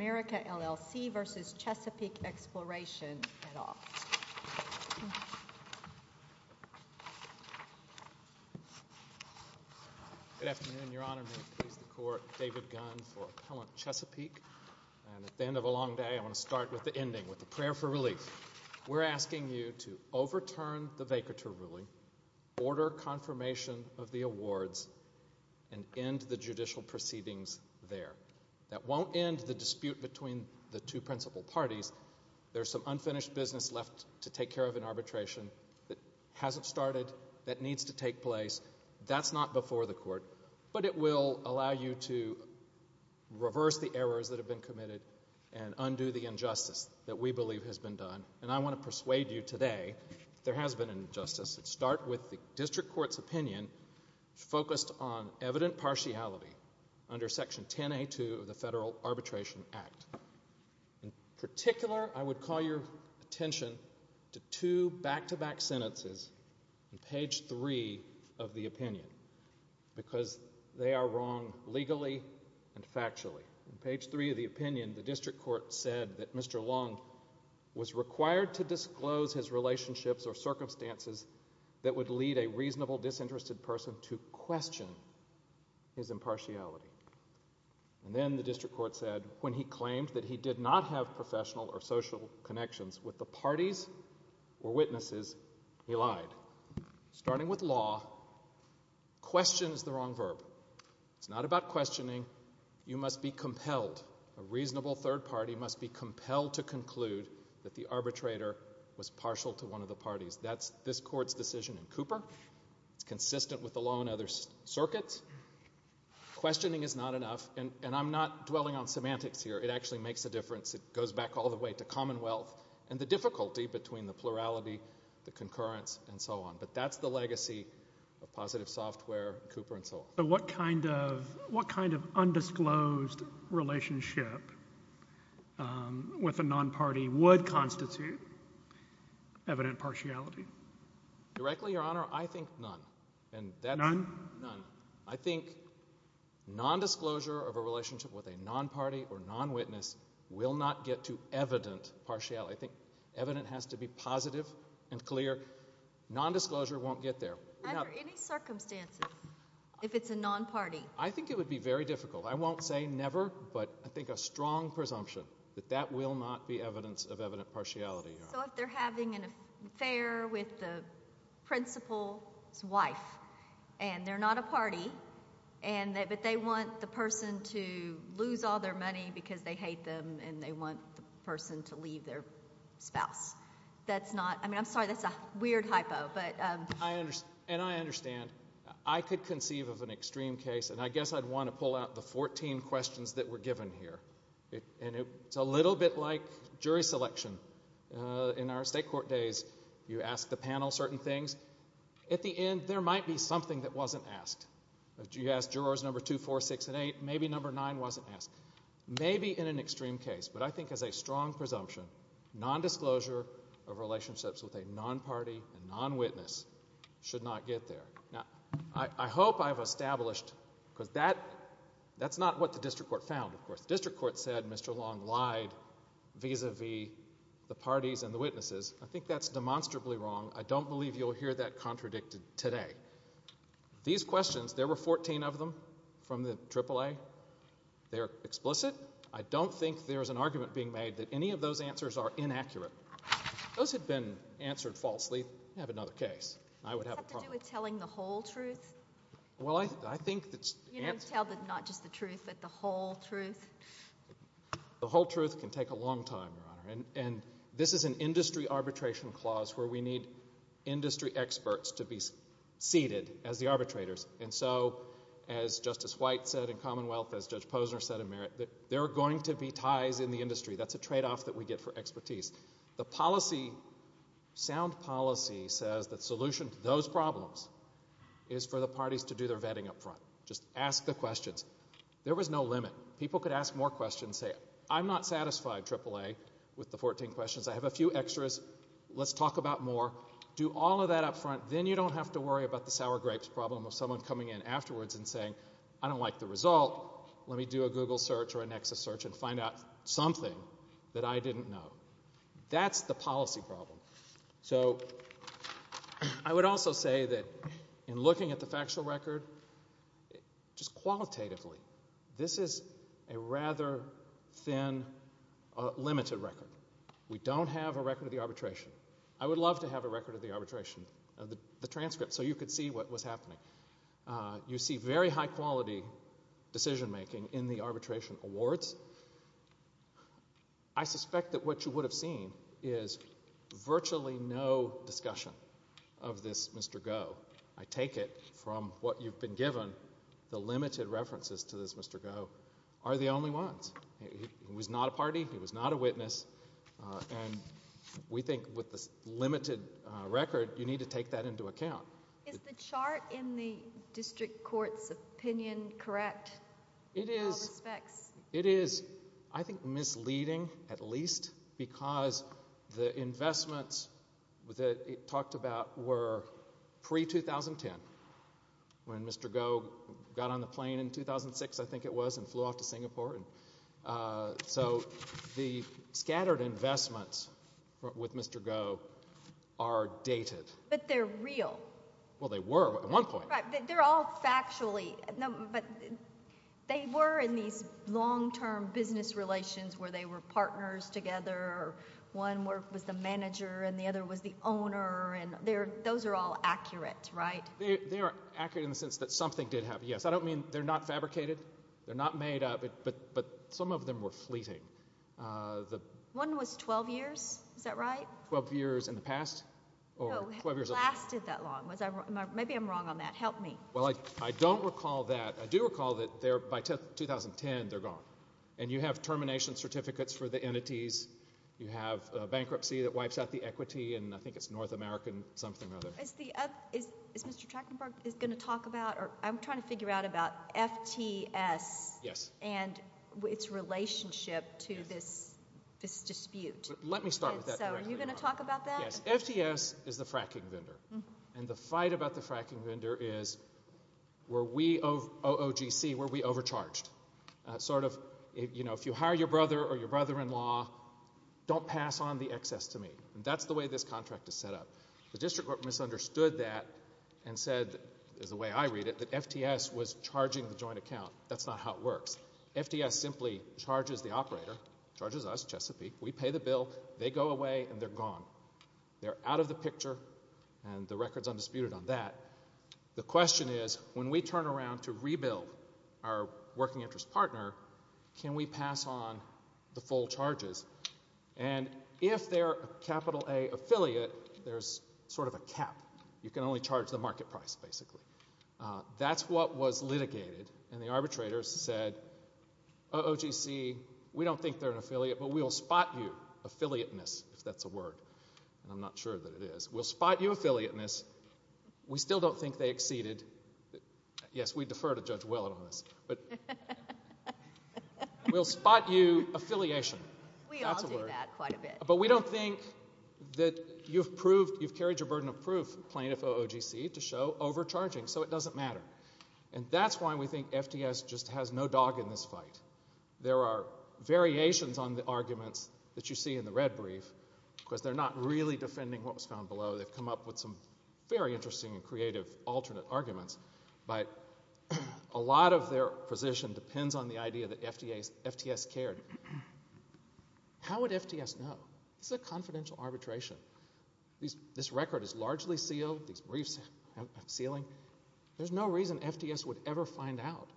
Good afternoon, Your Honor, David Gunn for Appellant Chesapeake, and at the end of a long day, I want to start with the ending, with the prayer for relief. We're asking you to overturn the Vacature Ruling, order confirmation of the awards, and end the judicial proceedings there. That won't end the dispute between the two principal parties, there's some unfinished business left to take care of in arbitration that hasn't started, that needs to take place, that's not before the court, but it will allow you to reverse the errors that have been committed and undo the injustice that we believe has been done. And I want to persuade you today, there has been an injustice, and start with the District Arbitration Act. In particular, I would call your attention to two back-to-back sentences on page three of the opinion, because they are wrong legally and factually. Page three of the opinion, the District Court said that Mr. Long was required to disclose his relationships or circumstances that would lead a reasonable disinterested person to And then the District Court said, when he claimed that he did not have professional or social connections with the parties or witnesses, he lied. Starting with law, question is the wrong verb. It's not about questioning, you must be compelled, a reasonable third party must be compelled to conclude that the arbitrator was partial to one of the parties. That's this court's decision in Cooper, it's consistent with the law in other circuits. Questioning is not enough, and I'm not dwelling on semantics here, it actually makes a difference, it goes back all the way to Commonwealth, and the difficulty between the plurality, the concurrence, and so on. But that's the legacy of Positive Software, Cooper, and so on. What kind of undisclosed relationship with a non-party would constitute evident partiality? Directly, Your Honor, I think none. None? None. I think nondisclosure of a relationship with a non-party or non-witness will not get to evident partiality. I think evident has to be positive and clear. Nondisclosure won't get there. Under any circumstances, if it's a non-party? I think it would be very difficult. I won't say never, but I think a strong presumption that that will not be evidence of evident partiality, Your Honor. So if they're having an affair with the principal's wife, and they're not a party, but they want the person to lose all their money because they hate them, and they want the person to leave their spouse. That's not, I mean, I'm sorry, that's a weird hypo. And I understand. I could conceive of an extreme case, and I guess I'd want to pull out the 14 questions that were given here. And it's a little bit like jury selection. In our state court days, you ask the panel certain things. At the end, there might be something that wasn't asked. You asked jurors number two, four, six, and eight. Maybe number nine wasn't asked. Maybe in an extreme case, but I think as a strong presumption, nondisclosure of relationships with a non-party and non-witness should not get there. Now, I hope I've established, because that's not what the district court found, of course. District court said Mr. Long lied vis-a-vis the parties and the witnesses. I think that's demonstrably wrong. I don't believe you'll hear that contradicted today. These questions, there were 14 of them from the AAA. They're explicit. I don't think there's an argument being made that any of those answers are inaccurate. Those had been answered falsely. You have another case. I would have a problem. It's got to do with telling the whole truth? Well, I think that's... You don't tell not just the truth, but the whole truth? The whole truth can take a long time, Your Honor. And this is an industry arbitration clause where we need industry experts to be seated as the arbitrators. And so, as Justice White said in Commonwealth, as Judge Posner said in Merit, that there are going to be ties in the industry. That's a tradeoff that we get for expertise. The policy, sound policy, says that the solution to those problems is for the parties to do their vetting up front. Just ask the questions. There was no limit. People could ask more questions and say, I'm not satisfied, AAA, with the 14 questions. I have a few extras. Let's talk about more. Do all of that up front. Then you don't have to worry about the sour grapes problem of someone coming in afterwards and saying, I don't like the result, let me do a Google search or a Nexus search and find out something that I didn't know. That's the policy problem. So I would also say that in looking at the factual record, just qualitatively, this is a rather thin, limited record. We don't have a record of the arbitration. I would love to have a record of the arbitration, the transcript, so you could see what was happening. You see very high-quality decision-making in the arbitration awards. I suspect that what you would have seen is virtually no discussion of this Mr. Goh. I take it from what you've been given, the limited references to this Mr. Goh are the only ones. He was not a party, he was not a witness, and we think with this limited record, you need to take that into account. Is the chart in the district court's opinion correct in all respects? It is. I think misleading, at least, because the investments that it talked about were pre-2010, when Mr. Goh got on the plane in 2006, I think it was, and flew off to Singapore. So the scattered investments with Mr. Goh are dated. But they're real. Well, they were at one point. They're all factually, but they were in these long-term business relations where they were partners together, one was the manager, and the other was the owner, and those are all accurate, right? They are accurate in the sense that something did happen, yes. I don't mean they're not fabricated, they're not made up, but some of them were fleeting. One was 12 years, is that right? 12 years in the past? No, it lasted that long. Maybe I'm wrong on that. Help me. Well, I don't recall that. I do recall that by 2010, they're gone. And you have termination certificates for the entities, you have bankruptcy that wipes out the equity, and I think it's North American something or other. Is Mr. Trachtenberg going to talk about, or I'm trying to figure out about FTS and its relationship to this dispute. Let me start with that directly. So are you going to talk about that? Yes. FTS is the fracking vendor. And the fight about the fracking vendor is, were we, OOGC, were we overcharged? Sort of, you know, if you hire your brother or your brother-in-law, don't pass on the excess to me. And that's the way this contract is set up. The district court misunderstood that and said, is the way I read it, that FTS was charging the joint account. That's not how it works. FTS simply charges the operator, charges us, Chesapeake, we pay the bill, they go away and they're gone. They're out of the picture, and the record's undisputed on that. The question is, when we turn around to rebuild our working interest partner, can we pass on the full charges? And if they're a capital A affiliate, there's sort of a cap. You can only charge the market price, basically. That's what was litigated, and the arbitrators said, OOGC, we don't think they're an affiliate, but we'll spot you, affiliateness, if that's a word, and I'm not sure that it is. We'll spot you, affiliateness, we still don't think they exceeded, yes, we defer to Judge Whelan on this, but we'll spot you, affiliation, that's a word. We all do that quite a bit. But we don't think that you've proved, you've carried your burden of proof, plaintiff OOGC, to show overcharging, so it doesn't matter. And that's why we think FTS just has no dog in this fight. There are variations on the arguments that you see in the red brief, because they're not really defending what was found below. They've come up with some very interesting and creative alternate arguments, but a lot of their position depends on the idea that FTS cared. How would FTS know? This is a confidential arbitration. This record is largely sealed, these briefs have sealing. There's no reason FTS would ever find out.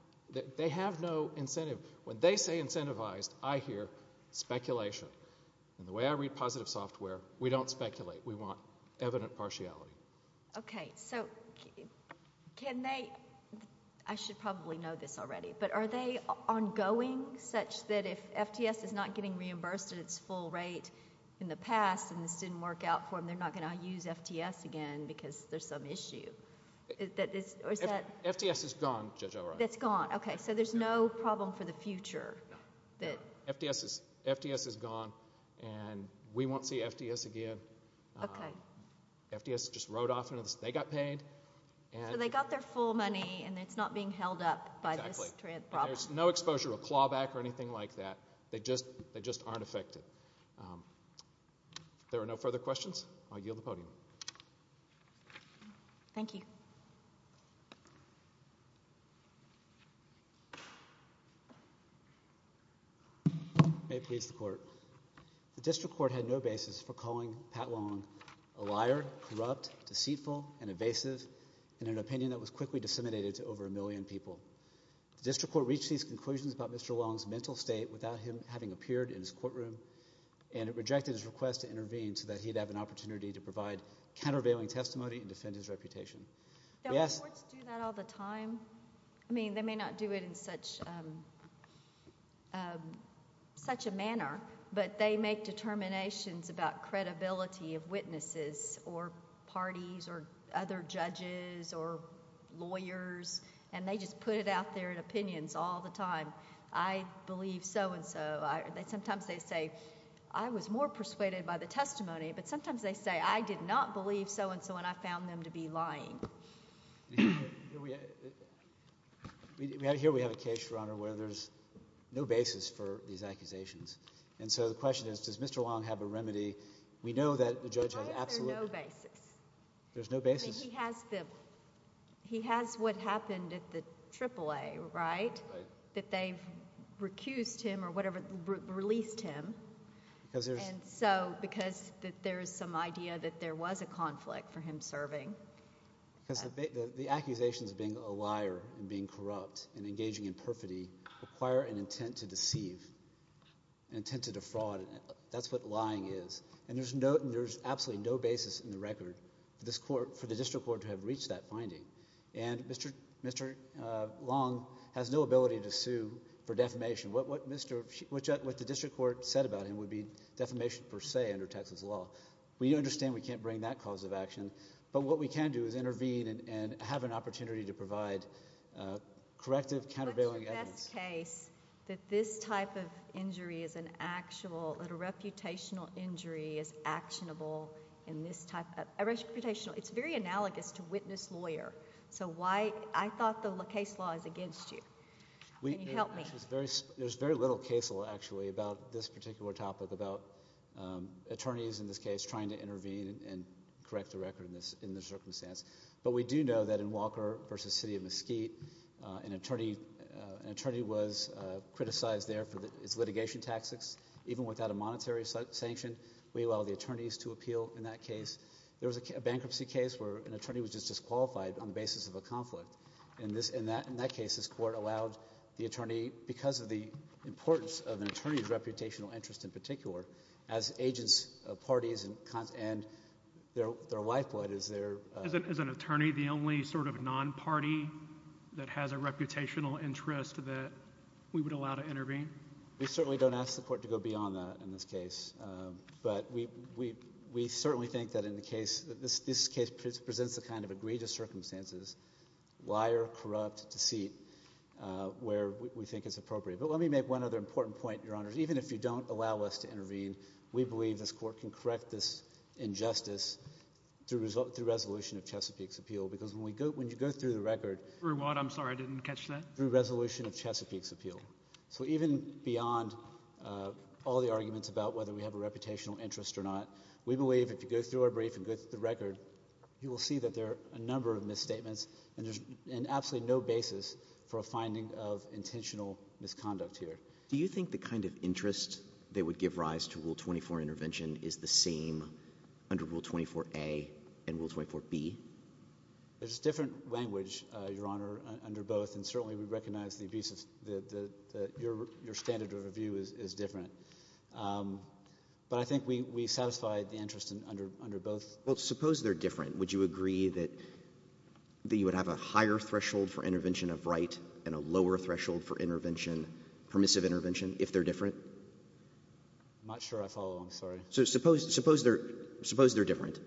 They have no incentive. When they say incentivized, I hear speculation. And the way I read positive software, we don't speculate, we want evident partiality. Okay, so can they, I should probably know this already, but are they ongoing such that if FTS is not getting reimbursed at its full rate in the past, and this didn't work out for them, they're not going to use FTS again, because there's some issue? FTS is gone, Judge O'Rourke. It's gone, okay, so there's no problem for the future? No. FTS is gone, and we won't see FTS again. Okay. FTS just rode off into this. They got paid. So they got their full money, and it's not being held up by this problem. Exactly. There's no exposure or clawback or anything like that. They just aren't affected. So, if there are no further questions, I'll yield the podium. Thank you. May it please the Court. The District Court had no basis for calling Pat Long a liar, corrupt, deceitful, and evasive, in an opinion that was quickly disseminated to over a million people. The District Court reached these conclusions about Mr. Long's mental state without him having appeared in his courtroom, and it rejected his request to intervene so that he'd have an opportunity to provide countervailing testimony and defend his reputation. Do courts do that all the time? I mean, they may not do it in such a manner, but they make determinations about credibility of witnesses or parties or other judges or lawyers, and they just put it out there in opinions all the time. I believe so-and-so. Sometimes they say, I was more persuaded by the testimony, but sometimes they say, I did not believe so-and-so, and I found them to be lying. Here we have a case, Your Honor, where there's no basis for these accusations. And so, the question is, does Mr. Long have a remedy? We know that the judge has absolutely... Why is there no basis? There's no basis? I mean, he has the... he has what happened at the AAA, right, that they've recused him or whatever, released him, and so, because there's some idea that there was a conflict for him serving. The accusations of being a liar and being corrupt and engaging in perfidy require an intent to deceive, an intent to defraud, and that's what lying is. And there's absolutely no basis in the record for the district court to have reached that finding. And Mr. Long has no ability to sue for defamation. What the district court said about him would be defamation per se under Texas law. We understand we can't bring that cause of action, but what we can do is intervene and have an opportunity to provide corrective, countervailing evidence. We know in this case that this type of injury is an actual... that a reputational injury is actionable in this type of... a reputational... it's very analogous to witness-lawyer, so why... I thought the LaCasse law is against you. Can you help me? There's very little case law, actually, about this particular topic about attorneys, in this case, trying to intervene and correct the record in this circumstance. But we do know that in Walker v. City of Mesquite, an attorney was criticized there for his litigation tactics. Even without a monetary sanction, we allow the attorneys to appeal in that case. There was a bankruptcy case where an attorney was just disqualified on the basis of a conflict. In that case, this court allowed the attorney, because of the importance of an attorney's reputational interest in particular, as agents of parties and their lifeblood as their... Is an attorney the only sort of non-party that has a reputational interest that we would allow to intervene? We certainly don't ask the court to go beyond that in this case, but we certainly think that in the case... this case presents the kind of egregious circumstances, liar, corrupt, deceit, where we think it's appropriate. But let me make one other important point, Your Honors. Even if you don't allow us to intervene, we believe this court can correct this injustice through resolution of Chesapeake's appeal, because when you go through the record... Through what? I'm sorry. I didn't catch that. Through resolution of Chesapeake's appeal. So even beyond all the arguments about whether we have a reputational interest or not, we believe if you go through our brief and go through the record, you will see that there are a number of misstatements, and there's absolutely no basis for a finding of intentional misconduct here. Do you think the kind of interest that would give rise to Rule 24 intervention is the same under Rule 24a and Rule 24b? There's a different language, Your Honor, under both, and certainly we recognize the abuse of... that your standard of review is different, but I think we satisfy the interest under both. Well, suppose they're different. Would you agree that you would have a higher threshold for intervention of right and a lower threshold for intervention... permissive intervention, if they're different? I'm not sure I follow. I'm sorry. So suppose they're different.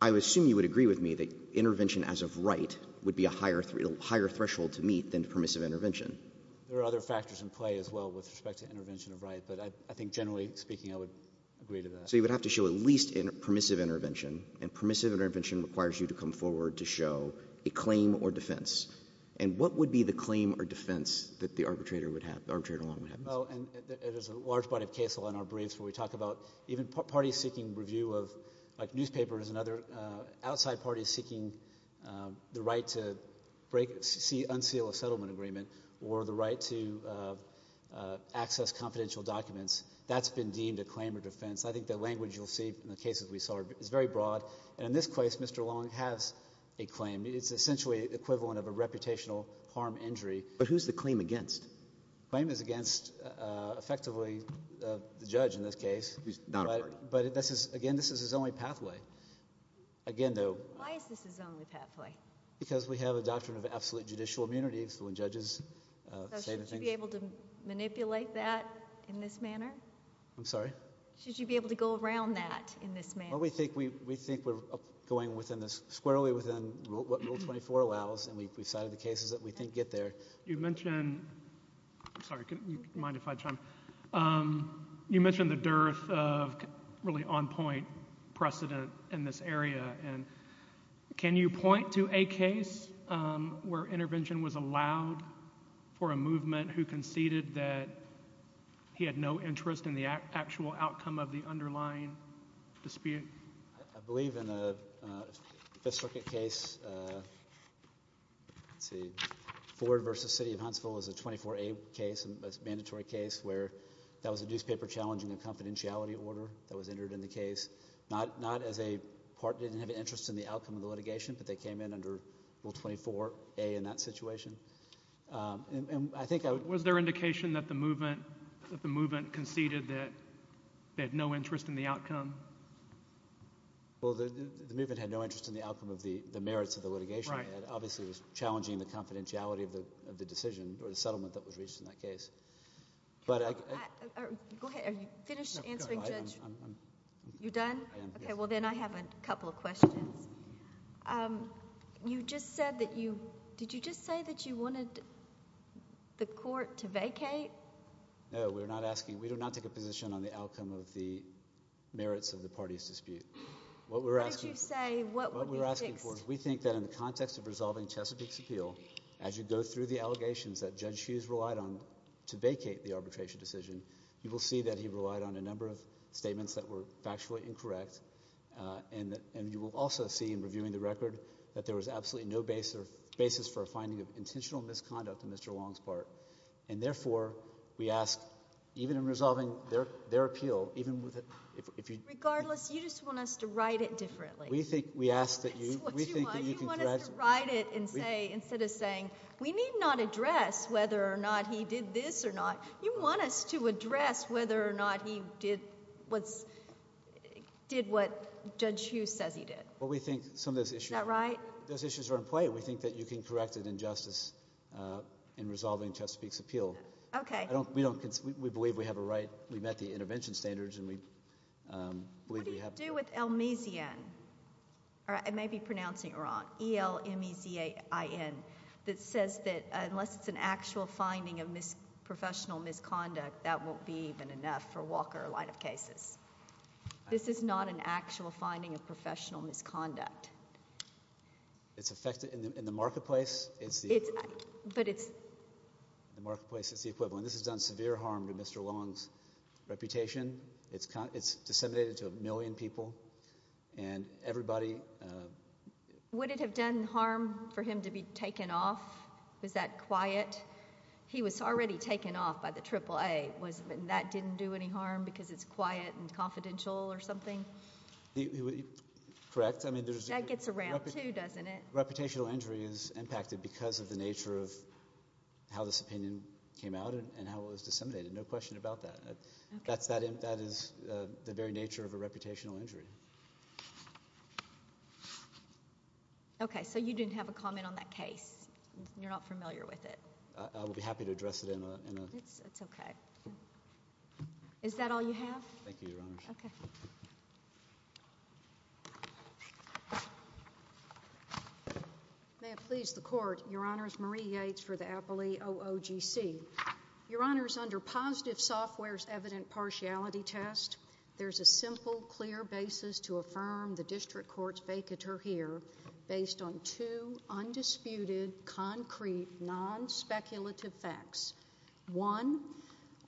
I assume you would agree with me that intervention as of right would be a higher threshold to meet than permissive intervention. There are other factors in play as well with respect to intervention of right, but I think generally speaking, I would agree to that. So you would have to show at least permissive intervention, and permissive intervention requires you to come forward to show a claim or defense. And what would be the claim or defense that the arbitrator would have, the arbitrator would have? Well, and there's a large body of case law in our briefs where we talk about even parties seeking review of... like newspapers and other... outside parties seeking the right to break... unseal a settlement agreement or the right to access confidential documents. That's been deemed a claim or defense. I think the language you'll see in the cases we saw is very broad, and in this case, Mr. Long has a claim. It's essentially equivalent of a reputational harm injury. But who's the claim against? The claim is against, effectively, the judge in this case. He's not a party. But this is, again, this is his only pathway. Again though... Why is this his only pathway? Because we have a doctrine of absolute judicial immunity, so when judges say the things... So should you be able to manipulate that in this manner? I'm sorry? Should you be able to go around that in this manner? Well, we think we're going squarely within what Rule 24 allows, and we've cited the cases that we think get there. You mentioned... I'm sorry. Mind if I chime in? You mentioned the dearth of really on-point precedent in this area, and can you point to a case where intervention was allowed for a movement who conceded that he had no interest in the actual outcome of the underlying dispute? I believe in a Fifth Circuit case, let's see, Ford v. City of Huntsville is a 24A case, a mandatory case, where that was a newspaper challenging a confidentiality order that was entered in the case. Not as a party that didn't have an interest in the outcome of the litigation, but they came in under Rule 24A in that situation. And I think I would... Was there indication that the movement conceded that they had no interest in the outcome? Well, the movement had no interest in the outcome of the merits of the litigation. Right. Obviously, it was challenging the confidentiality of the decision or the settlement that was reached in that case. Go ahead. Are you finished answering, Judge? No. I'm... You're done? I am. Okay. Well, then I have a couple of questions. You just said that you... Did you just say that you wanted the court to vacate? No. No, we're not asking... We do not take a position on the outcome of the merits of the party's dispute. What we're asking... What did you say? What would be fixed? What we're asking for is we think that in the context of resolving Chesapeake's appeal, as you go through the allegations that Judge Hughes relied on to vacate the arbitration decision, you will see that he relied on a number of statements that were factually incorrect, and you will also see in reviewing the record that there was absolutely no basis for a finding of intentional misconduct on Mr. Long's part. And therefore, we ask, even in resolving their appeal, even with... Regardless, you just want us to write it differently. We think... That's what you want. You want us to write it and say... Instead of saying, we need not address whether or not he did this or not, you want us to address whether or not he did what Judge Hughes says he did. Well, we think some of those issues... Is that right? Those issues are in play. We think that you can correct an injustice in resolving Chesapeake's appeal. Okay. We believe we have a right. We met the intervention standards, and we believe we have... What do you do with Elmizian, or I may be pronouncing it wrong, E-L-M-I-Z-A-I-N, that says that unless it's an actual finding of professional misconduct, that won't be even enough for Walker or line of cases. This is not an actual finding of professional misconduct. It's affected... In the marketplace, it's the... But it's... In the marketplace, it's the equivalent. This has done severe harm to Mr. Long's reputation. It's disseminated to a million people, and everybody... Would it have done harm for him to be taken off? Was that quiet? He was already taken off by the AAA. That didn't do any harm because it's quiet and confidential or something? Correct. That gets around, too, doesn't it? Reputational injury is impacted because of the nature of how this opinion came out and how it was disseminated. No question about that. That is the very nature of a reputational injury. Okay, so you didn't have a comment on that case. You're not familiar with it. I would be happy to address it in a... That's okay. Is that all you have? Thank you, Your Honor. Okay. May it please the Court. Your Honor, it's Marie Yates for the Appley OOGC. Your Honor, under positive software's evident partiality test, there's a simple, clear basis to affirm the District Court's vacatur here based on two undisputed, concrete, non-speculative facts. One,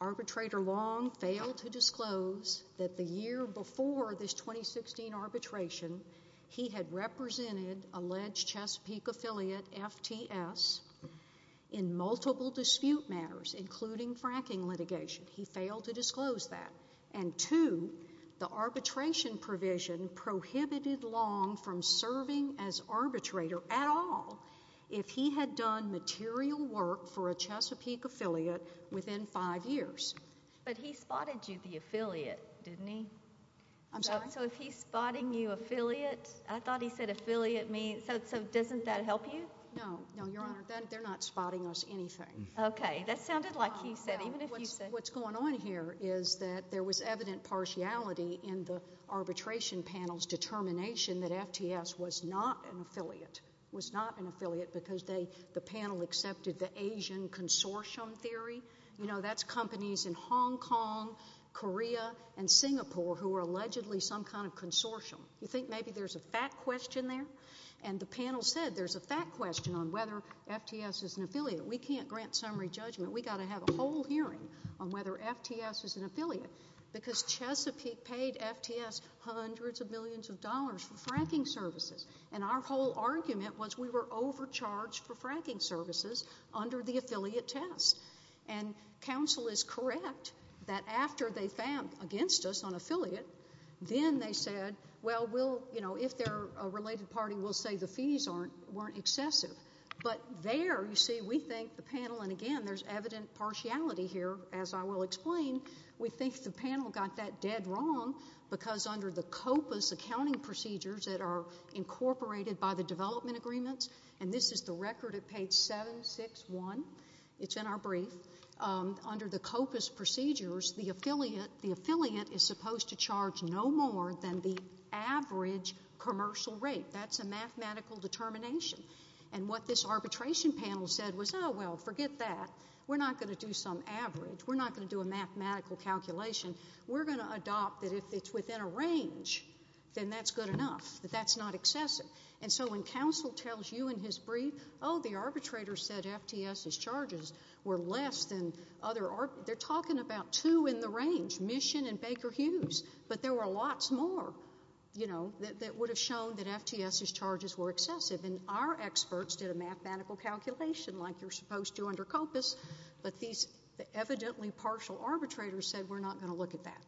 Arbitrator Long failed to disclose that the year before this 2016 arbitration, he had represented alleged Chesapeake affiliate, FTS, in multiple dispute matters, including fracking litigation. He failed to disclose that. And two, the arbitration provision prohibited Long from serving as arbitrator at all if he had done material work for a Chesapeake affiliate within five years. But he spotted you the affiliate, didn't he? I'm sorry? So if he's spotting you affiliate, I thought he said affiliate means... so doesn't that help you? No. No, Your Honor. They're not spotting us anything. Okay. That sounded like he said, even if he said... No. What's going on here is that there was evident partiality in the arbitration panel's determination that FTS was not an affiliate, was not an affiliate because they... the panel accepted the Asian consortium theory. You know, that's companies in Hong Kong, Korea, and Singapore who are allegedly some kind of consortium. You think maybe there's a fact question there? And the panel said there's a fact question on whether FTS is an affiliate. We can't grant summary judgment. We've got to have a whole hearing on whether FTS is an affiliate because Chesapeake paid FTS hundreds of millions of dollars for fracking services. And our whole argument was we were overcharged for fracking services under the affiliate test. And counsel is correct that after they fanned against us on affiliate, then they said, well, we'll... you know, if they're a related party, we'll say the fees weren't excessive. But there, you see, we think the panel... and again, there's evident partiality here, as I will explain. We think the panel got that dead wrong because under the COPA's accounting procedures that are incorporated by the development agreements, and this is the record at page 761. It's in our brief. Under the COPA's procedures, the affiliate is supposed to charge no more than the average commercial rate. That's a mathematical determination. And what this arbitration panel said was, oh, well, forget that. We're not going to do some average. We're not going to do a mathematical calculation. We're going to adopt that if it's within a range, then that's good enough, that that's not excessive. And so when counsel tells you in his brief, oh, the arbitrator said FTS's charges were less than other... they're talking about two in the range, Mission and Baker Hughes, but there were lots more, you know, that would have shown that FTS's charges were excessive. And our experts did a mathematical calculation like you're supposed to under COPA's, but these evidently partial arbitrators said, we're not going to look at that.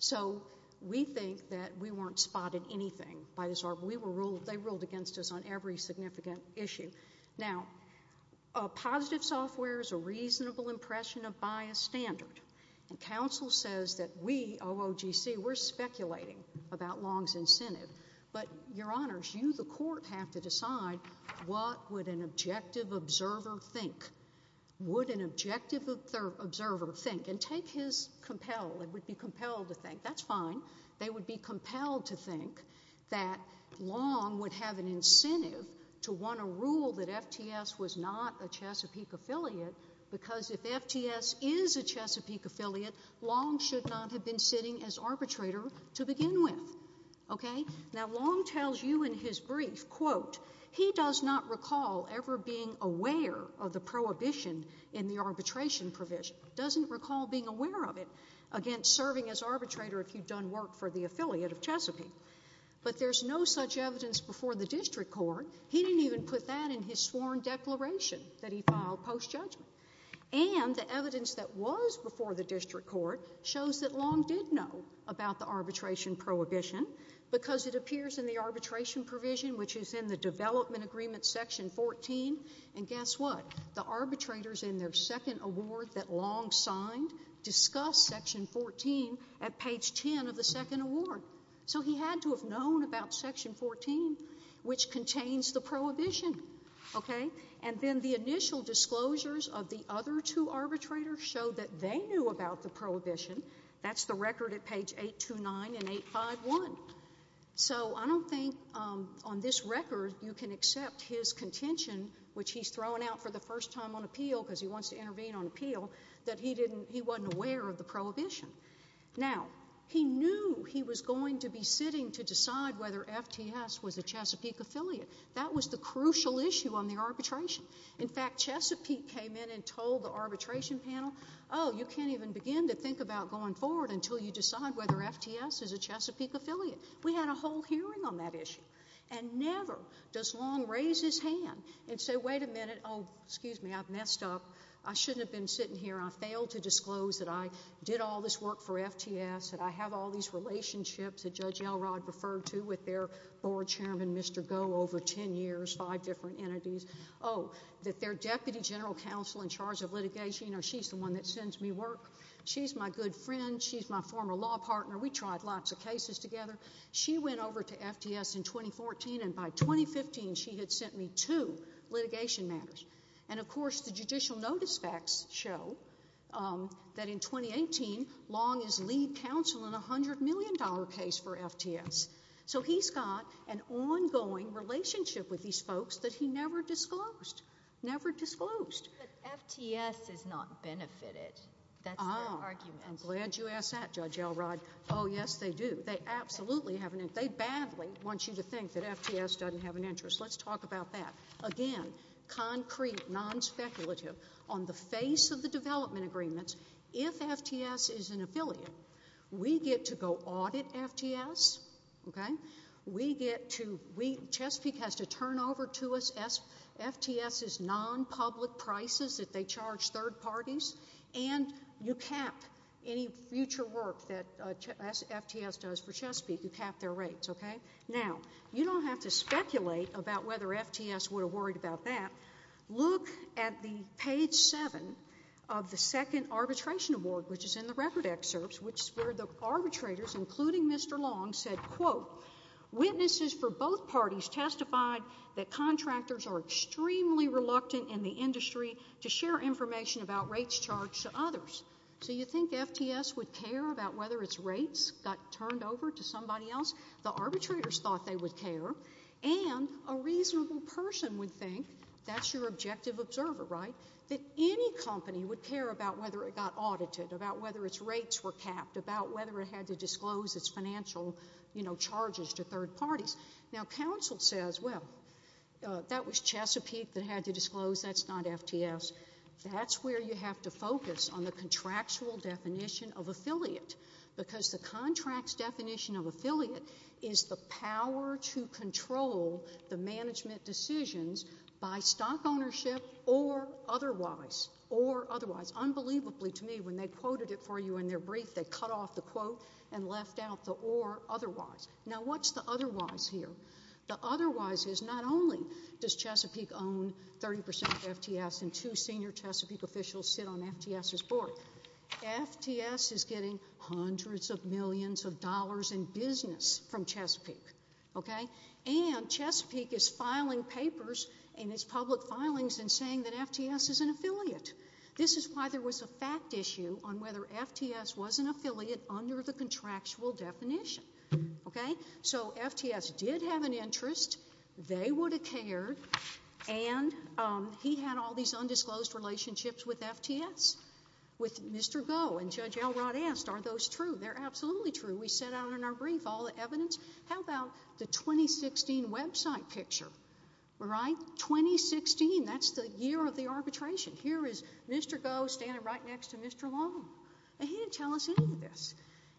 So we think that we weren't spotted anything by this... we were ruled... they ruled against us on every significant issue. Now, a positive software is a reasonable impression of biased standard. And counsel says that we, OOGC, we're speculating about Long's incentive. But, Your Honors, you, the court, have to decide what would an objective observer think? Would an objective observer think? And take his compel. It would be compelled to think. That's fine. They would be compelled to think that Long would have an incentive to want to rule that FTS was not a Chesapeake affiliate, because if FTS is a Chesapeake affiliate, Long should not have been sitting as arbitrator to begin with. Okay? Now, Long tells you in his brief, quote, he does not recall ever being aware of the prohibition in the arbitration provision. He doesn't recall being aware of it against serving as arbitrator if you'd done work for the affiliate of Chesapeake. But there's no such evidence before the district court. He didn't even put that in his sworn declaration that he filed post-judgment. And the evidence that was before the district court shows that Long did know about the arbitration prohibition, because it appears in the arbitration provision, which is in the development agreement section 14. And guess what? The arbitrators in their second award that Long signed discuss section 14 at page 10 of the second award. So he had to have known about section 14, which contains the prohibition. Okay? And then the initial disclosures of the other two arbitrators show that they knew about the prohibition. That's the record at page 829 and 851. So I don't think on this record you can accept his contention, which he's thrown out for the first time on appeal, because he wants to intervene on appeal, that he wasn't aware of the prohibition. Now, he knew he was going to be sitting to decide whether FTS was a Chesapeake affiliate. That was the crucial issue on the arbitration. In fact, Chesapeake came in and told the arbitration panel, oh, you can't even begin to think about going forward until you decide whether FTS is a Chesapeake affiliate. We had a whole hearing on that issue. And never does Long raise his hand and say, wait a minute, oh, excuse me, I've messed up. I shouldn't have been sitting here. I failed to disclose that I did all this work for FTS, that I have all these relationships that Judge Elrod referred to with their board chairman, Mr. Goh, over ten years, five different entities. Oh, that their deputy general counsel in charge of litigation, you know, she's the one that sends me work. She's my good friend. She's my former law partner. We tried lots of cases together. She went over to FTS in 2014, and by 2015, she had sent me two litigation matters. And, of course, the judicial notice facts show that in 2018, Long is lead counsel in a $100 million case for FTS. So he's got an ongoing relationship with these folks that he never disclosed, never disclosed. But FTS is not benefited. That's their argument. I'm glad you asked that, Judge Elrod. Oh, yes, they do. They absolutely have an interest. They badly want you to think that FTS doesn't have an interest. Let's talk about that. Again, concrete, non-speculative, on the face of the development agreements, if FTS is an affiliate, we get to go audit FTS, okay? We get to, we, Chesapeake has to turn over to us FTS's non-public prices that they charge third parties, and you cap any future work that FTS does for Chesapeake. You cap their rates, okay? Now, you don't have to speculate about whether FTS would have worried about that. Look at the page seven of the second arbitration award, which is in the record excerpts, which where the arbitrators, including Mr. Long, said, quote, witnesses for both parties testified that contractors are extremely reluctant in the industry to share information about rates charged to others. So you think FTS would care about whether its rates got turned over to somebody else? The arbitrators thought they would care, and a reasonable person would think, that's your objective observer, right, that any company would care about whether it got audited, about whether its rates were capped, about whether it had to disclose its financial, you know, charges to third parties. Now, counsel says, well, that was Chesapeake that had to disclose, that's not FTS. That's where you have to focus on the contractual definition of affiliate, because the contract's definition of affiliate is the power to control the management decisions by stock ownership or otherwise, or otherwise. Unbelievably to me, when they quoted it for you in their brief, they cut off the quote and left out the or otherwise. Now, what's the otherwise here? The otherwise is not only does Chesapeake own 30% of FTS and two senior Chesapeake officials sit on FTS's board, FTS is getting hundreds of millions of dollars in business from Chesapeake, okay, and Chesapeake is filing papers in its public filings and saying that FTS is an affiliate. This is why there was a fact issue on whether FTS was an affiliate under the contractual definition, okay? So, FTS did have an interest, they would have cared, and he had all these undisclosed relationships with FTS, with Mr. Goh, and Judge Elrod asked, are those true? They're absolutely true. We set out in our brief all the evidence. How about the 2016 website picture, right? 2016, that's the year of the arbitration. Here is Mr. Goh standing right next to Mr. Long, and he didn't tell us any of this.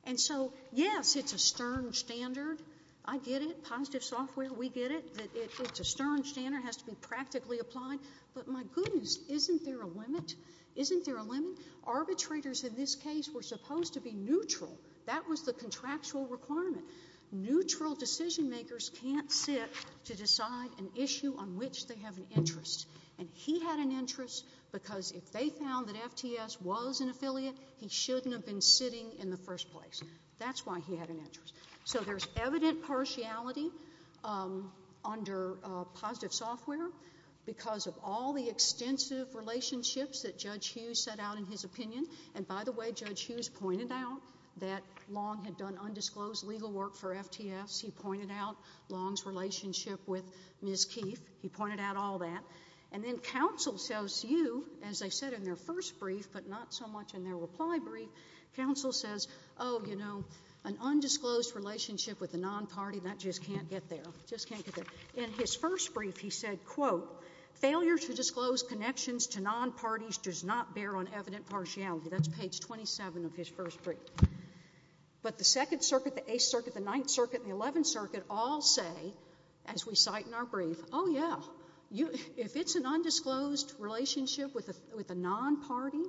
And so, yes, it's a stern standard. I get it. Positive software, we get it, that it's a stern standard, it has to be practically applied, but my goodness, isn't there a limit? Isn't there a limit? Arbitrators in this case were supposed to be neutral. That was the contractual requirement. Neutral decision makers can't sit to decide an issue on which they have an interest, and he had an interest because if they found that FTS was an affiliate, he shouldn't have been sitting in the first place. That's why he had an interest. So there's evident partiality under positive software because of all the extensive relationships that Judge Hughes set out in his opinion. And by the way, Judge Hughes pointed out that Long had done undisclosed legal work for FTS. He pointed out Long's relationship with Ms. Keefe. He pointed out all that. And then counsel tells you, as they said in their first brief, but not so much in their reply brief, counsel says, oh, you know, an undisclosed relationship with a non-party, that just can't get there. Just can't get there. In his first brief, he said, quote, failure to disclose connections to non-parties does not bear on evident partiality. That's page 27 of his first brief. But the Second Circuit, the Eighth Circuit, the Ninth Circuit, and the Eleventh Circuit all say, as we cite in our brief, oh, yeah, if it's an undisclosed relationship with a non-party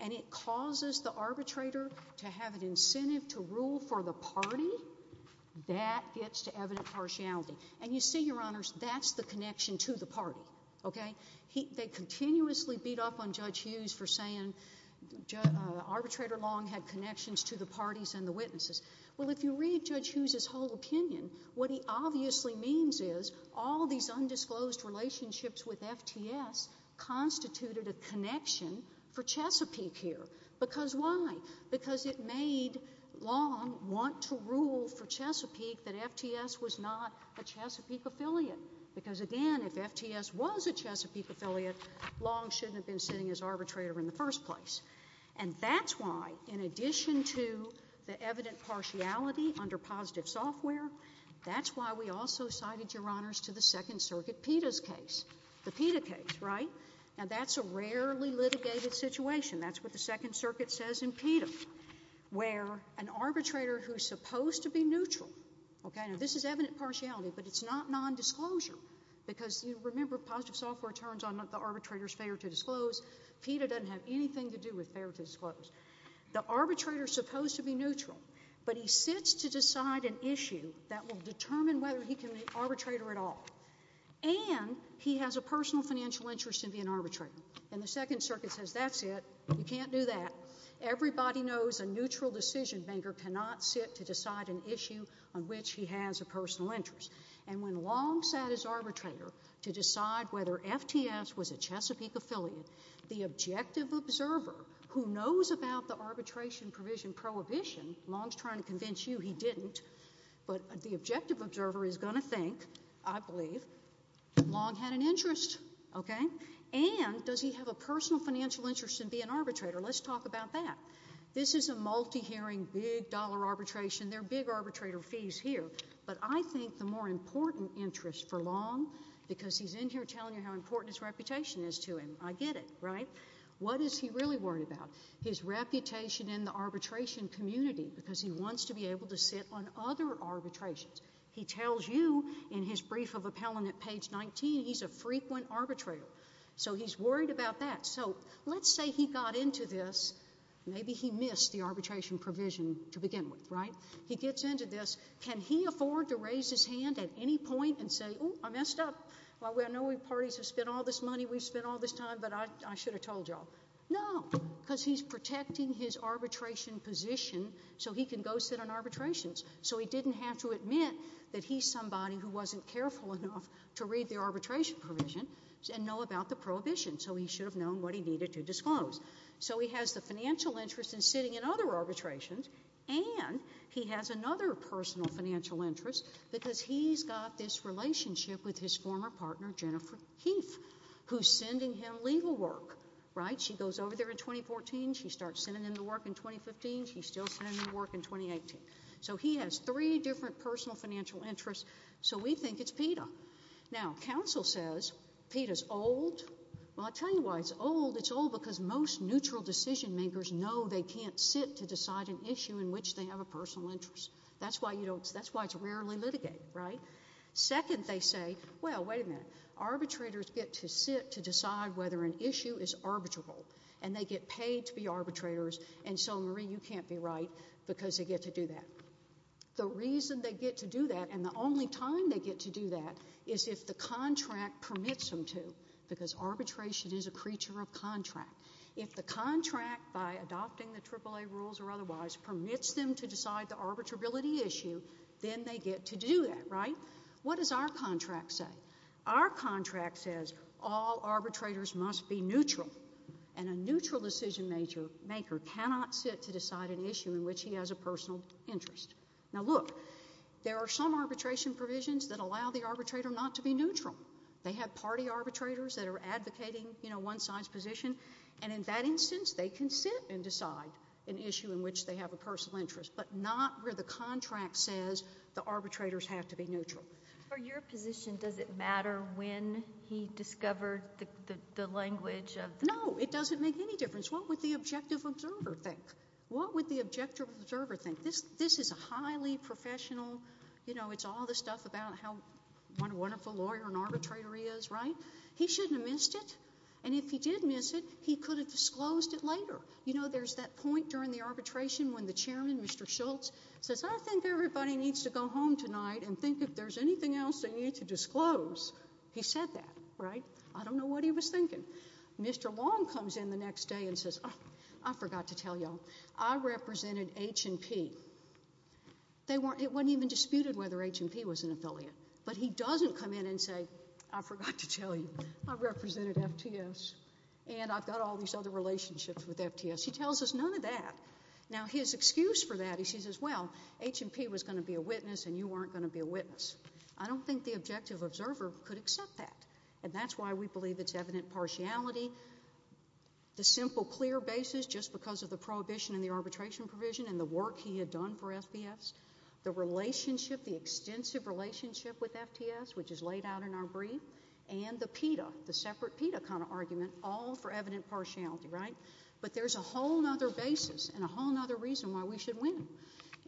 and it causes the arbitrator to have an incentive to rule for the party, that gets to evident partiality. And you see, Your Honors, that's the connection to the party. Okay? They continuously beat up on Judge Hughes for saying arbitrator Long had connections to the parties and the witnesses. Well, if you read Judge Hughes' whole opinion, what he obviously means is all these for Chesapeake here. Because why? Because it made Long want to rule for Chesapeake that FTS was not a Chesapeake affiliate. Because, again, if FTS was a Chesapeake affiliate, Long shouldn't have been sitting as arbitrator in the first place. And that's why, in addition to the evident partiality under positive software, that's why we also cited, Your Honors, to the Second Circuit PETA's case. The PETA case, right? Now, that's a rarely litigated situation. That's what the Second Circuit says in PETA, where an arbitrator who's supposed to be neutral, okay? Now, this is evident partiality, but it's not nondisclosure. Because, you remember, positive software turns on the arbitrator's failure to disclose. PETA doesn't have anything to do with failure to disclose. The arbitrator's supposed to be neutral, but he sits to decide an issue that will determine whether he can be an arbitrator at all. And he has a personal financial interest in being an arbitrator. And the Second Circuit says, that's it. You can't do that. Everybody knows a neutral decision-maker cannot sit to decide an issue on which he has a personal interest. And when Long sat as arbitrator to decide whether FTS was a Chesapeake affiliate, the objective observer, who knows about the arbitration provision prohibition, Long's trying to convince you he didn't. But the objective observer is going to think, I believe, Long had an interest, okay? And does he have a personal financial interest in being an arbitrator? Let's talk about that. This is a multi-hearing, big dollar arbitration. There are big arbitrator fees here. But I think the more important interest for Long, because he's in here telling you how important his reputation is to him. I get it, right? What is he really worried about? His reputation in the arbitration community, because he wants to be able to sit on other arbitrations. He tells you in his brief of appellant at page 19, he's a frequent arbitrator. So, he's worried about that. So, let's say he got into this. Maybe he missed the arbitration provision to begin with, right? He gets into this. Can he afford to raise his hand at any point and say, ooh, I messed up. I know we parties have spent all this money, we've spent all this time, but I should have told y'all. No, because he's protecting his arbitration position so he can go sit on arbitrations. So, he didn't have to admit that he's somebody who wasn't careful enough to read the arbitration provision and know about the prohibition. So, he should have known what he needed to disclose. So, he has the financial interest in sitting in other arbitrations and he has another personal financial interest because he's got this relationship with his former partner, Jennifer Heath, who's sending him legal work, right? She goes over there in 2014. She starts sending him the work in 2015. She's still sending him the work in 2018. So, he has three different personal financial interests. So, we think it's PETA. Now, counsel says PETA's old. Well, I'll tell you why it's old. It's old because most neutral decision makers know they can't sit to decide an issue in which they have a personal interest. That's why it's rarely litigated, right? Second, they say, well, wait a minute. Arbitrators get to sit to decide whether an issue is arbitrable and they get paid to be arbitrators and so, Marie, you can't be right because they get to do that. The reason they get to do that and the only time they get to do that is if the contract permits them to because arbitration is a creature of contract. If the contract, by adopting the AAA rules or otherwise, permits them to decide the arbitrability issue, then they get to do that, right? What does our contract say? Our contract says all arbitrators must be neutral and a neutral decision maker cannot sit to decide an issue in which he has a personal interest. Now, look, there are some arbitration provisions that allow the arbitrator not to be neutral. They have party arbitrators that are advocating, you know, one side's position and in that instance, they can sit and decide an issue in which they have a personal interest but not where the contract says the arbitrators have to be neutral. For your position, does it matter when he discovered the language? No, it doesn't make any difference. What would the objective observer think? What would the objective observer think? This is a highly professional, you know, it's all this stuff about how wonderful a lawyer and arbitrator he is, right? He shouldn't have missed it and if he did miss it, he could have disclosed it later. You know, there's that point during the arbitration when the chairman, Mr. Schultz, says, I think everybody needs to go home tonight and think if there's anything else they need to disclose. He said that, right? I don't know what he was thinking. Mr. Long comes in the next day and says, I forgot to tell you all, I represented H&P. It wasn't even disputed whether H&P was an affiliate but he doesn't come in and say, I forgot to tell you, I represented FTS and I've got all these other relationships with FTS. He tells us none of that. Now, his excuse for that, he says, well, H&P was going to be a witness and you weren't going to be a witness. I don't think the objective observer could accept that and that's why we believe it's evident partiality. The simple, clear basis, just because of the prohibition and the arbitration provision and the work he had done for FTS, the relationship, the extensive relationship with FTS, which is laid out in our brief, and the PETA, the separate PETA kind of argument, all for evident partiality, right? But there's a whole other basis and a whole other reason why we should win.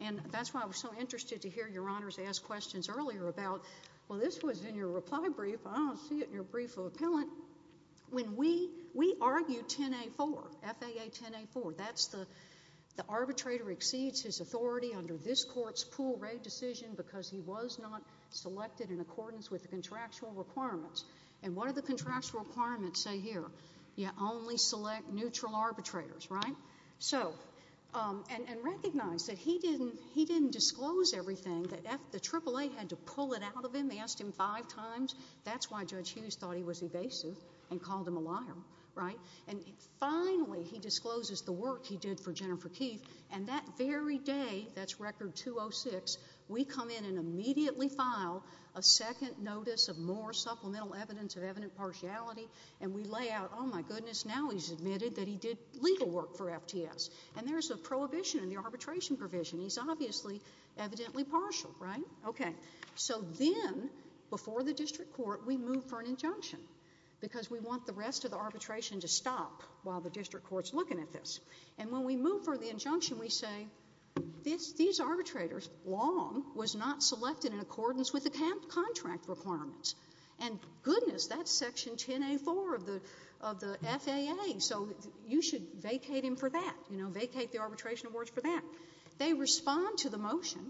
And that's why I was so interested to hear Your Honors ask questions earlier about, well, this was in your reply brief. I don't see it in your brief of appellant. When we argue 10A4, FAA 10A4, that's the arbitrator exceeds his authority under this court's pool raid decision because he was not selected in accordance with the contractual requirements. And what do the contractual requirements say here? You only select neutral arbitrators, right? So, and recognize that he didn't disclose everything. The AAA had to pull it out of him. They asked him five times. That's why Judge Hughes thought he was evasive and called him a liar, right? And finally, he discloses the work he did for Jennifer Keith and that very day, that's record 206, we come in and immediately file a second notice of more supplemental evidence of evident partiality and we lay out, oh, my goodness, now he's admitted that he did legal work for FTS. And there's a prohibition in the arbitration provision. He's obviously evidently partial, right? Okay. So then, before the district court, we move for an injunction because we want the rest of the arbitration to stop while the district court's looking at this. And when we move for the injunction, we say, these arbitrators long was not selected in accordance with the contract requirements. And goodness, that's section 10A4 of the FAA. So you should vacate him for that, you know, vacate the arbitration awards for that. They respond to the motion.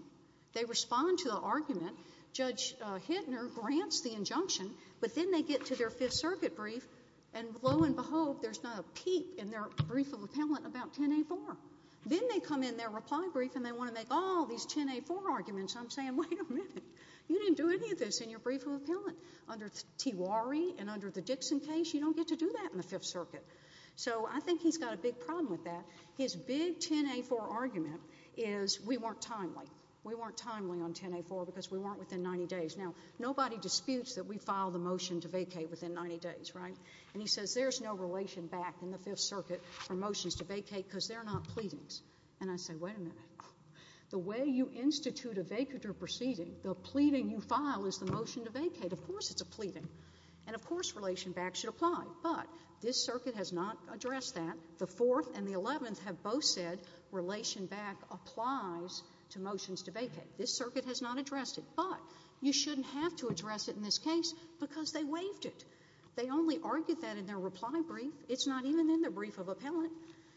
They respond to the argument. Judge Hittner grants the injunction, but then they get to their Fifth Circuit brief and lo and behold, there's not a peep in their brief of appellant about 10A4. Then they come in their reply brief and they want to make, oh, these 10A4 arguments. I'm saying, wait a minute, you didn't do any of this in your brief of appellant under Tiwari and under the Dixon case. You don't get to do that in the Fifth Circuit. So I think he's got a big problem with that. His big 10A4 argument is we weren't timely. We weren't timely on 10A4 because we weren't within 90 days. Now, nobody disputes that we filed a motion to vacate within 90 days, right? And he says there's no relation back in the Fifth Circuit for motions to vacate because they're not pleadings. And I say, wait a minute. The way you institute a vacatur proceeding, the pleading you file is the motion to vacate. Of course it's a pleading. And of course relation back should apply. But this circuit has not addressed that. The Fourth and the Eleventh have both said relation back applies to motions to vacate. This circuit has not addressed it. But you shouldn't have to address it in this case because they waived it. They only argued that in their reply brief. It's not even in their brief of appellant.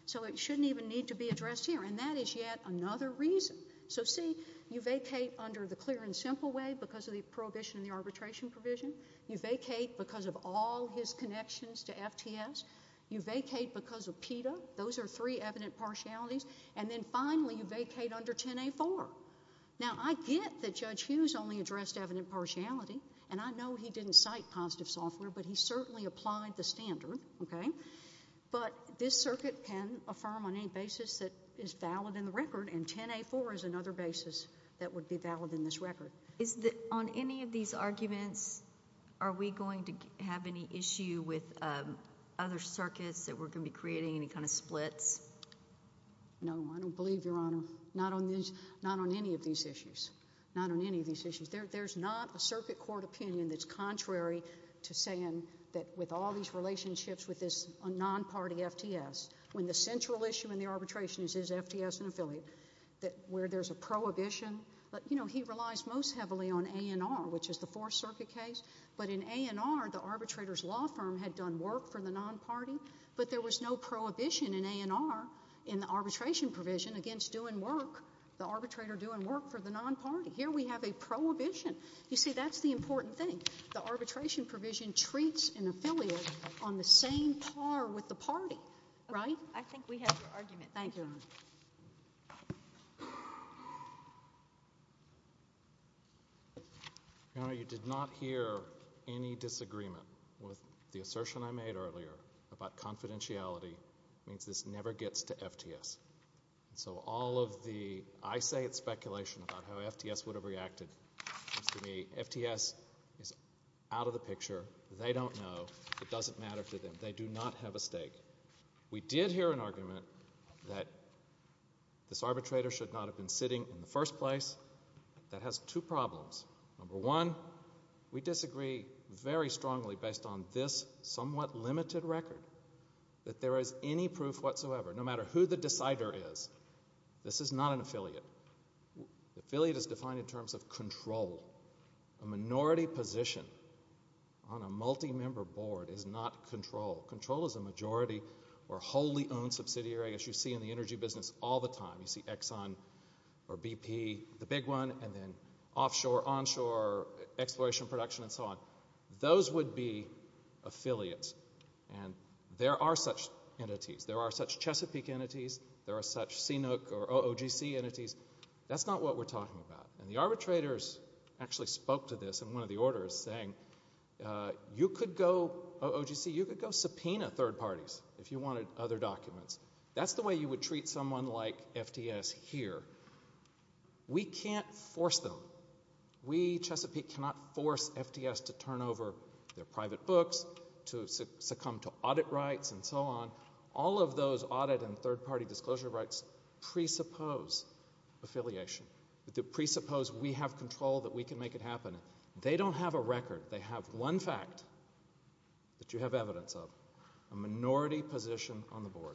So it shouldn't even need to be addressed here. And that is yet another reason. So, see, you vacate under the clear and simple way because of the prohibition in the arbitration provision. You vacate because of all his connections to FTS. You vacate because of PETA. Those are three evident partialities. And then finally you vacate under 10A4. Now, I get that Judge Hughes only addressed evident partiality. And I know he didn't cite positive software. But he certainly applied the standard, okay? But this circuit can affirm on any basis that is valid in the record. And 10A4 is another basis that would be valid in this record. On any of these arguments, are we going to have any issue with other circuits that we're going to be creating any kind of splits? No, I don't believe, Your Honor. Not on any of these issues. Not on any of these issues. There's not a circuit court opinion that's contrary to saying that with all these relationships with this non-party FTS, when the central issue in the arbitration is FTS and affiliate, where there's a prohibition. But, you know, he relies most heavily on ANR, which is the Fourth Circuit case. But in ANR, the arbitrator's law firm had done work for the non-party. But there was no prohibition in ANR in the arbitration provision against doing work, the arbitrator doing work for the non-party. Here we have a prohibition. You see, that's the important thing. The arbitration provision treats an affiliate on the same par with the party, right? I think we have your argument. Thank you. Your Honor, you did not hear any disagreement with the assertion I made earlier about confidentiality. It means this never gets to FTS. So all of the, I say it's speculation about how FTS would have reacted, seems to me FTS is out of the picture. They don't know. It doesn't matter to them. They do not have a stake. We did hear an argument that this arbitrator should not have been sitting in the first place. That has two problems. Number one, we disagree very strongly based on this somewhat limited record that there is any proof whatsoever, no matter who the decider is, this is not an affiliate. Affiliate is defined in terms of control. A minority position on a multi-member board is not control. Control is a majority or wholly owned subsidiary, as you see in the energy business all the time. You see Exxon or BP, the big one, and then offshore, onshore, exploration, production, and so on. Those would be affiliates. And there are such entities. There are such Chesapeake entities. There are such CNOOC or OOGC entities. That's not what we're talking about. And the arbitrators actually spoke to this in one of the orders saying, you could go, OOGC, you could go subpoena third parties if you wanted other documents. That's the way you would treat someone like FTS here. We can't force them. We, Chesapeake, cannot force FTS to turn over their private books to succumb to audit rights and so on. All of those audit and third party disclosure rights presuppose affiliation. They presuppose we have control, that we can make it happen. They don't have a record. They have one fact that you have evidence of, a minority position on the board.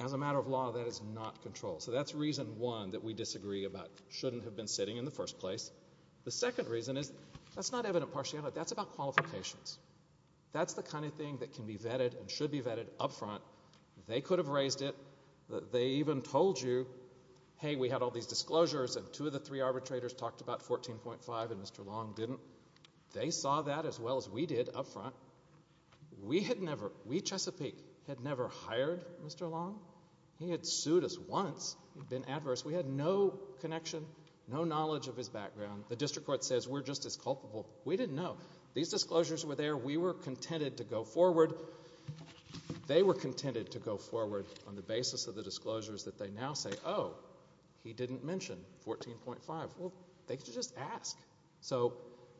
As a matter of law, that is not control. So that's reason one that we disagree about, shouldn't have been sitting in the first place. The second reason is, that's not evident partiality. That's about qualifications. That's the kind of thing that can be vetted and should be vetted up front. They could have raised it. They even told you, hey we had all these disclosures and two of the three arbitrators talked about 14.5 and Mr. Long didn't. They saw that as well as we did up front. We had never, we, Chesapeake, had never hired Mr. Long. He had sued us once. He'd been adverse. We had no connection, no knowledge of his background. The district court says we're just as culpable. We didn't know. These disclosures were there. We were contented to go forward. They were contented to go forward on the basis of the disclosures that they now say, oh, he didn't mention 14.5. Well, they could just ask.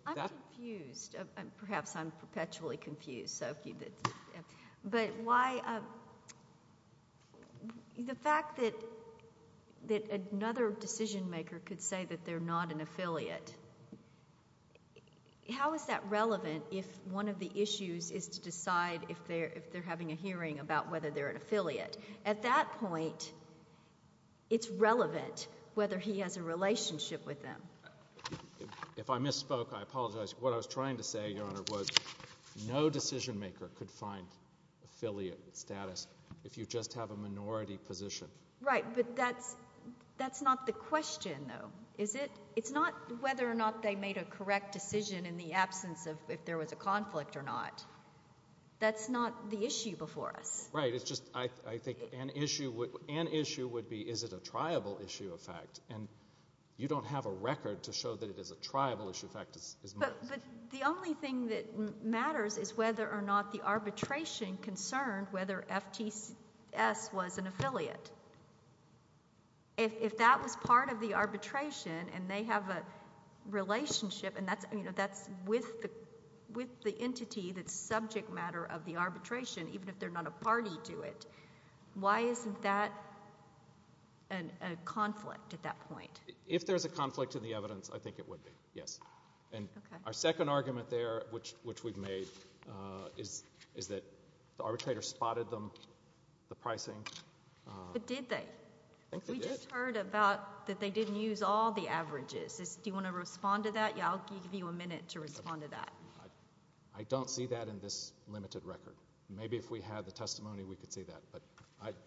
I'm confused. Perhaps I'm perpetually confused. But why, the fact that another decision maker could say that they're not an affiliate, how is that relevant if one of the issues is to decide if they're having a hearing about whether they're an affiliate? At that point, it's relevant whether he has a relationship with them. If I misspoke, I apologize. What I was trying to say, Your Honor, was no decision maker could find affiliate status if you just have a minority position. Right, but that's, that's not the question, though. It's not whether or not they made a correct decision in the absence of if there was a conflict or not. That's not the issue before us. Right, it's just, I think an issue would be is it a triable issue of fact? And you don't have a record to show that it is a triable issue of fact. But the only thing that matters is whether or not the arbitration concerned whether FTS was an affiliate. If that was part of the arbitration, and they have a relationship, and that's, you know, that's with the entity that's subject matter of the arbitration, even if they're not a party to it, why isn't that a conflict at that point? If there's a conflict in the evidence, I think it would be, yes. And our second argument there, which we've made, is that the arbitrator spotted them, the pricing. But did they? We just heard about that they didn't use all the averages. Do you want to respond to that? I'll give you a minute to respond to that. I don't see that in this limited record. Maybe if we had the testimony we could see that, but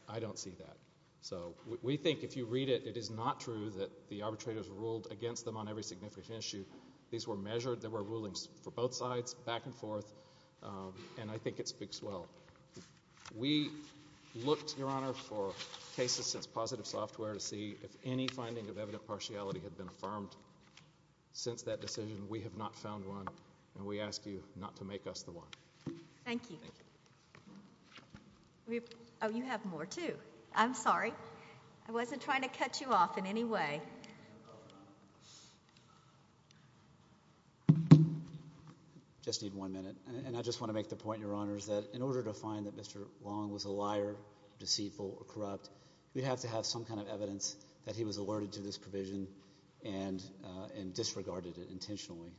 I don't see that. So we think if you read it, it is not true that the arbitrators ruled against them on every significant issue. These were measured. There were rulings for both sides, back and forth. And I think it speaks well. We looked, Your Honor, for cases since Positive Software to see if any finding of evident partiality had been affirmed. Since that decision, we have not found one, and we ask you not to make us the one. Thank you. Oh, you have more, too. I'm sorry. I wasn't trying to cut you off in any way. Just need one minute. And I just want to make the point, Your Honor, that in order to find that Mr. Long was a liar, deceitful, or corrupt, we have to have some kind of evidence that he was alerted to this provision and disregarded it intentionally.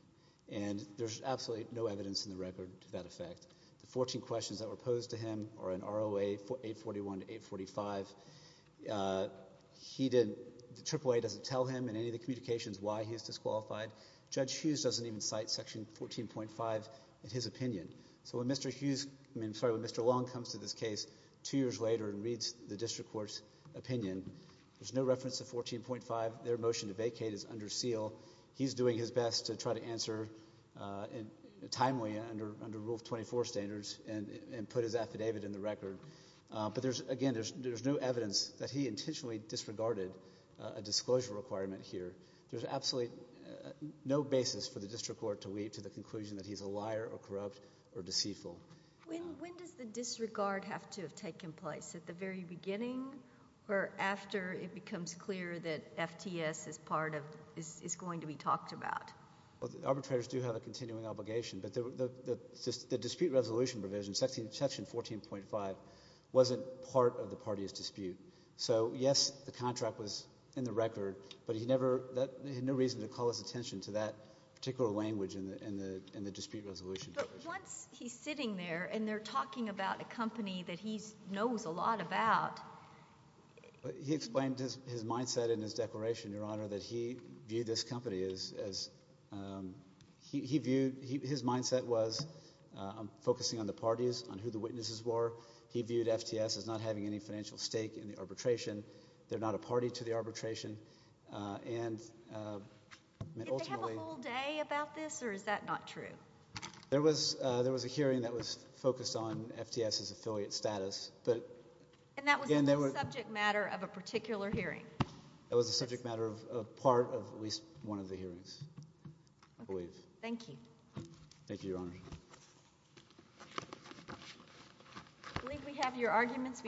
And there's absolutely no evidence in the record to that effect. The 14 questions that were posed to him are in ROA 841 to 845. The AAA doesn't tell him in any of the communications why he is disqualified. Judge Hughes doesn't even cite section 14.5 in his opinion. So when Mr. Long comes to this case two years later and reads the district court's opinion, there's no reference to 14.5. Their motion to vacate is under seal. He's doing his best to try to answer timely under Rule 24 standards and put his affidavit in the record. But again, there's no evidence that he intentionally disregarded a disclosure requirement here. There's absolutely no basis for the district court to weep to the conclusion that he's a liar or corrupt or deceitful. When does the disregard have to have taken place? At the very beginning or after it becomes clear that FTS is going to be talked about? Arbitrators do have a continuing obligation, but the dispute resolution provision, section 14.5, wasn't part of the party's dispute. So yes, the contract was in the record, but he had no reason to call his attention to that particular language in the dispute resolution provision. But once he's sitting there and they're talking about a company that he knows a lot about... He explained his mindset in his declaration, Your Honor, that he viewed this company as... His mindset was focusing on the parties, on who the witnesses were. He viewed FTS as not having any financial stake in the arbitration. They're not a party to the arbitration. And ultimately... Did they have a whole day about this? Or is that not true? There was a hearing that was focused on FTS's affiliate status. And that was a subject matter of a particular hearing? It was a subject matter of part of at least one of the hearings. I believe. Thank you. Thank you, Your Honor. I believe we have your arguments.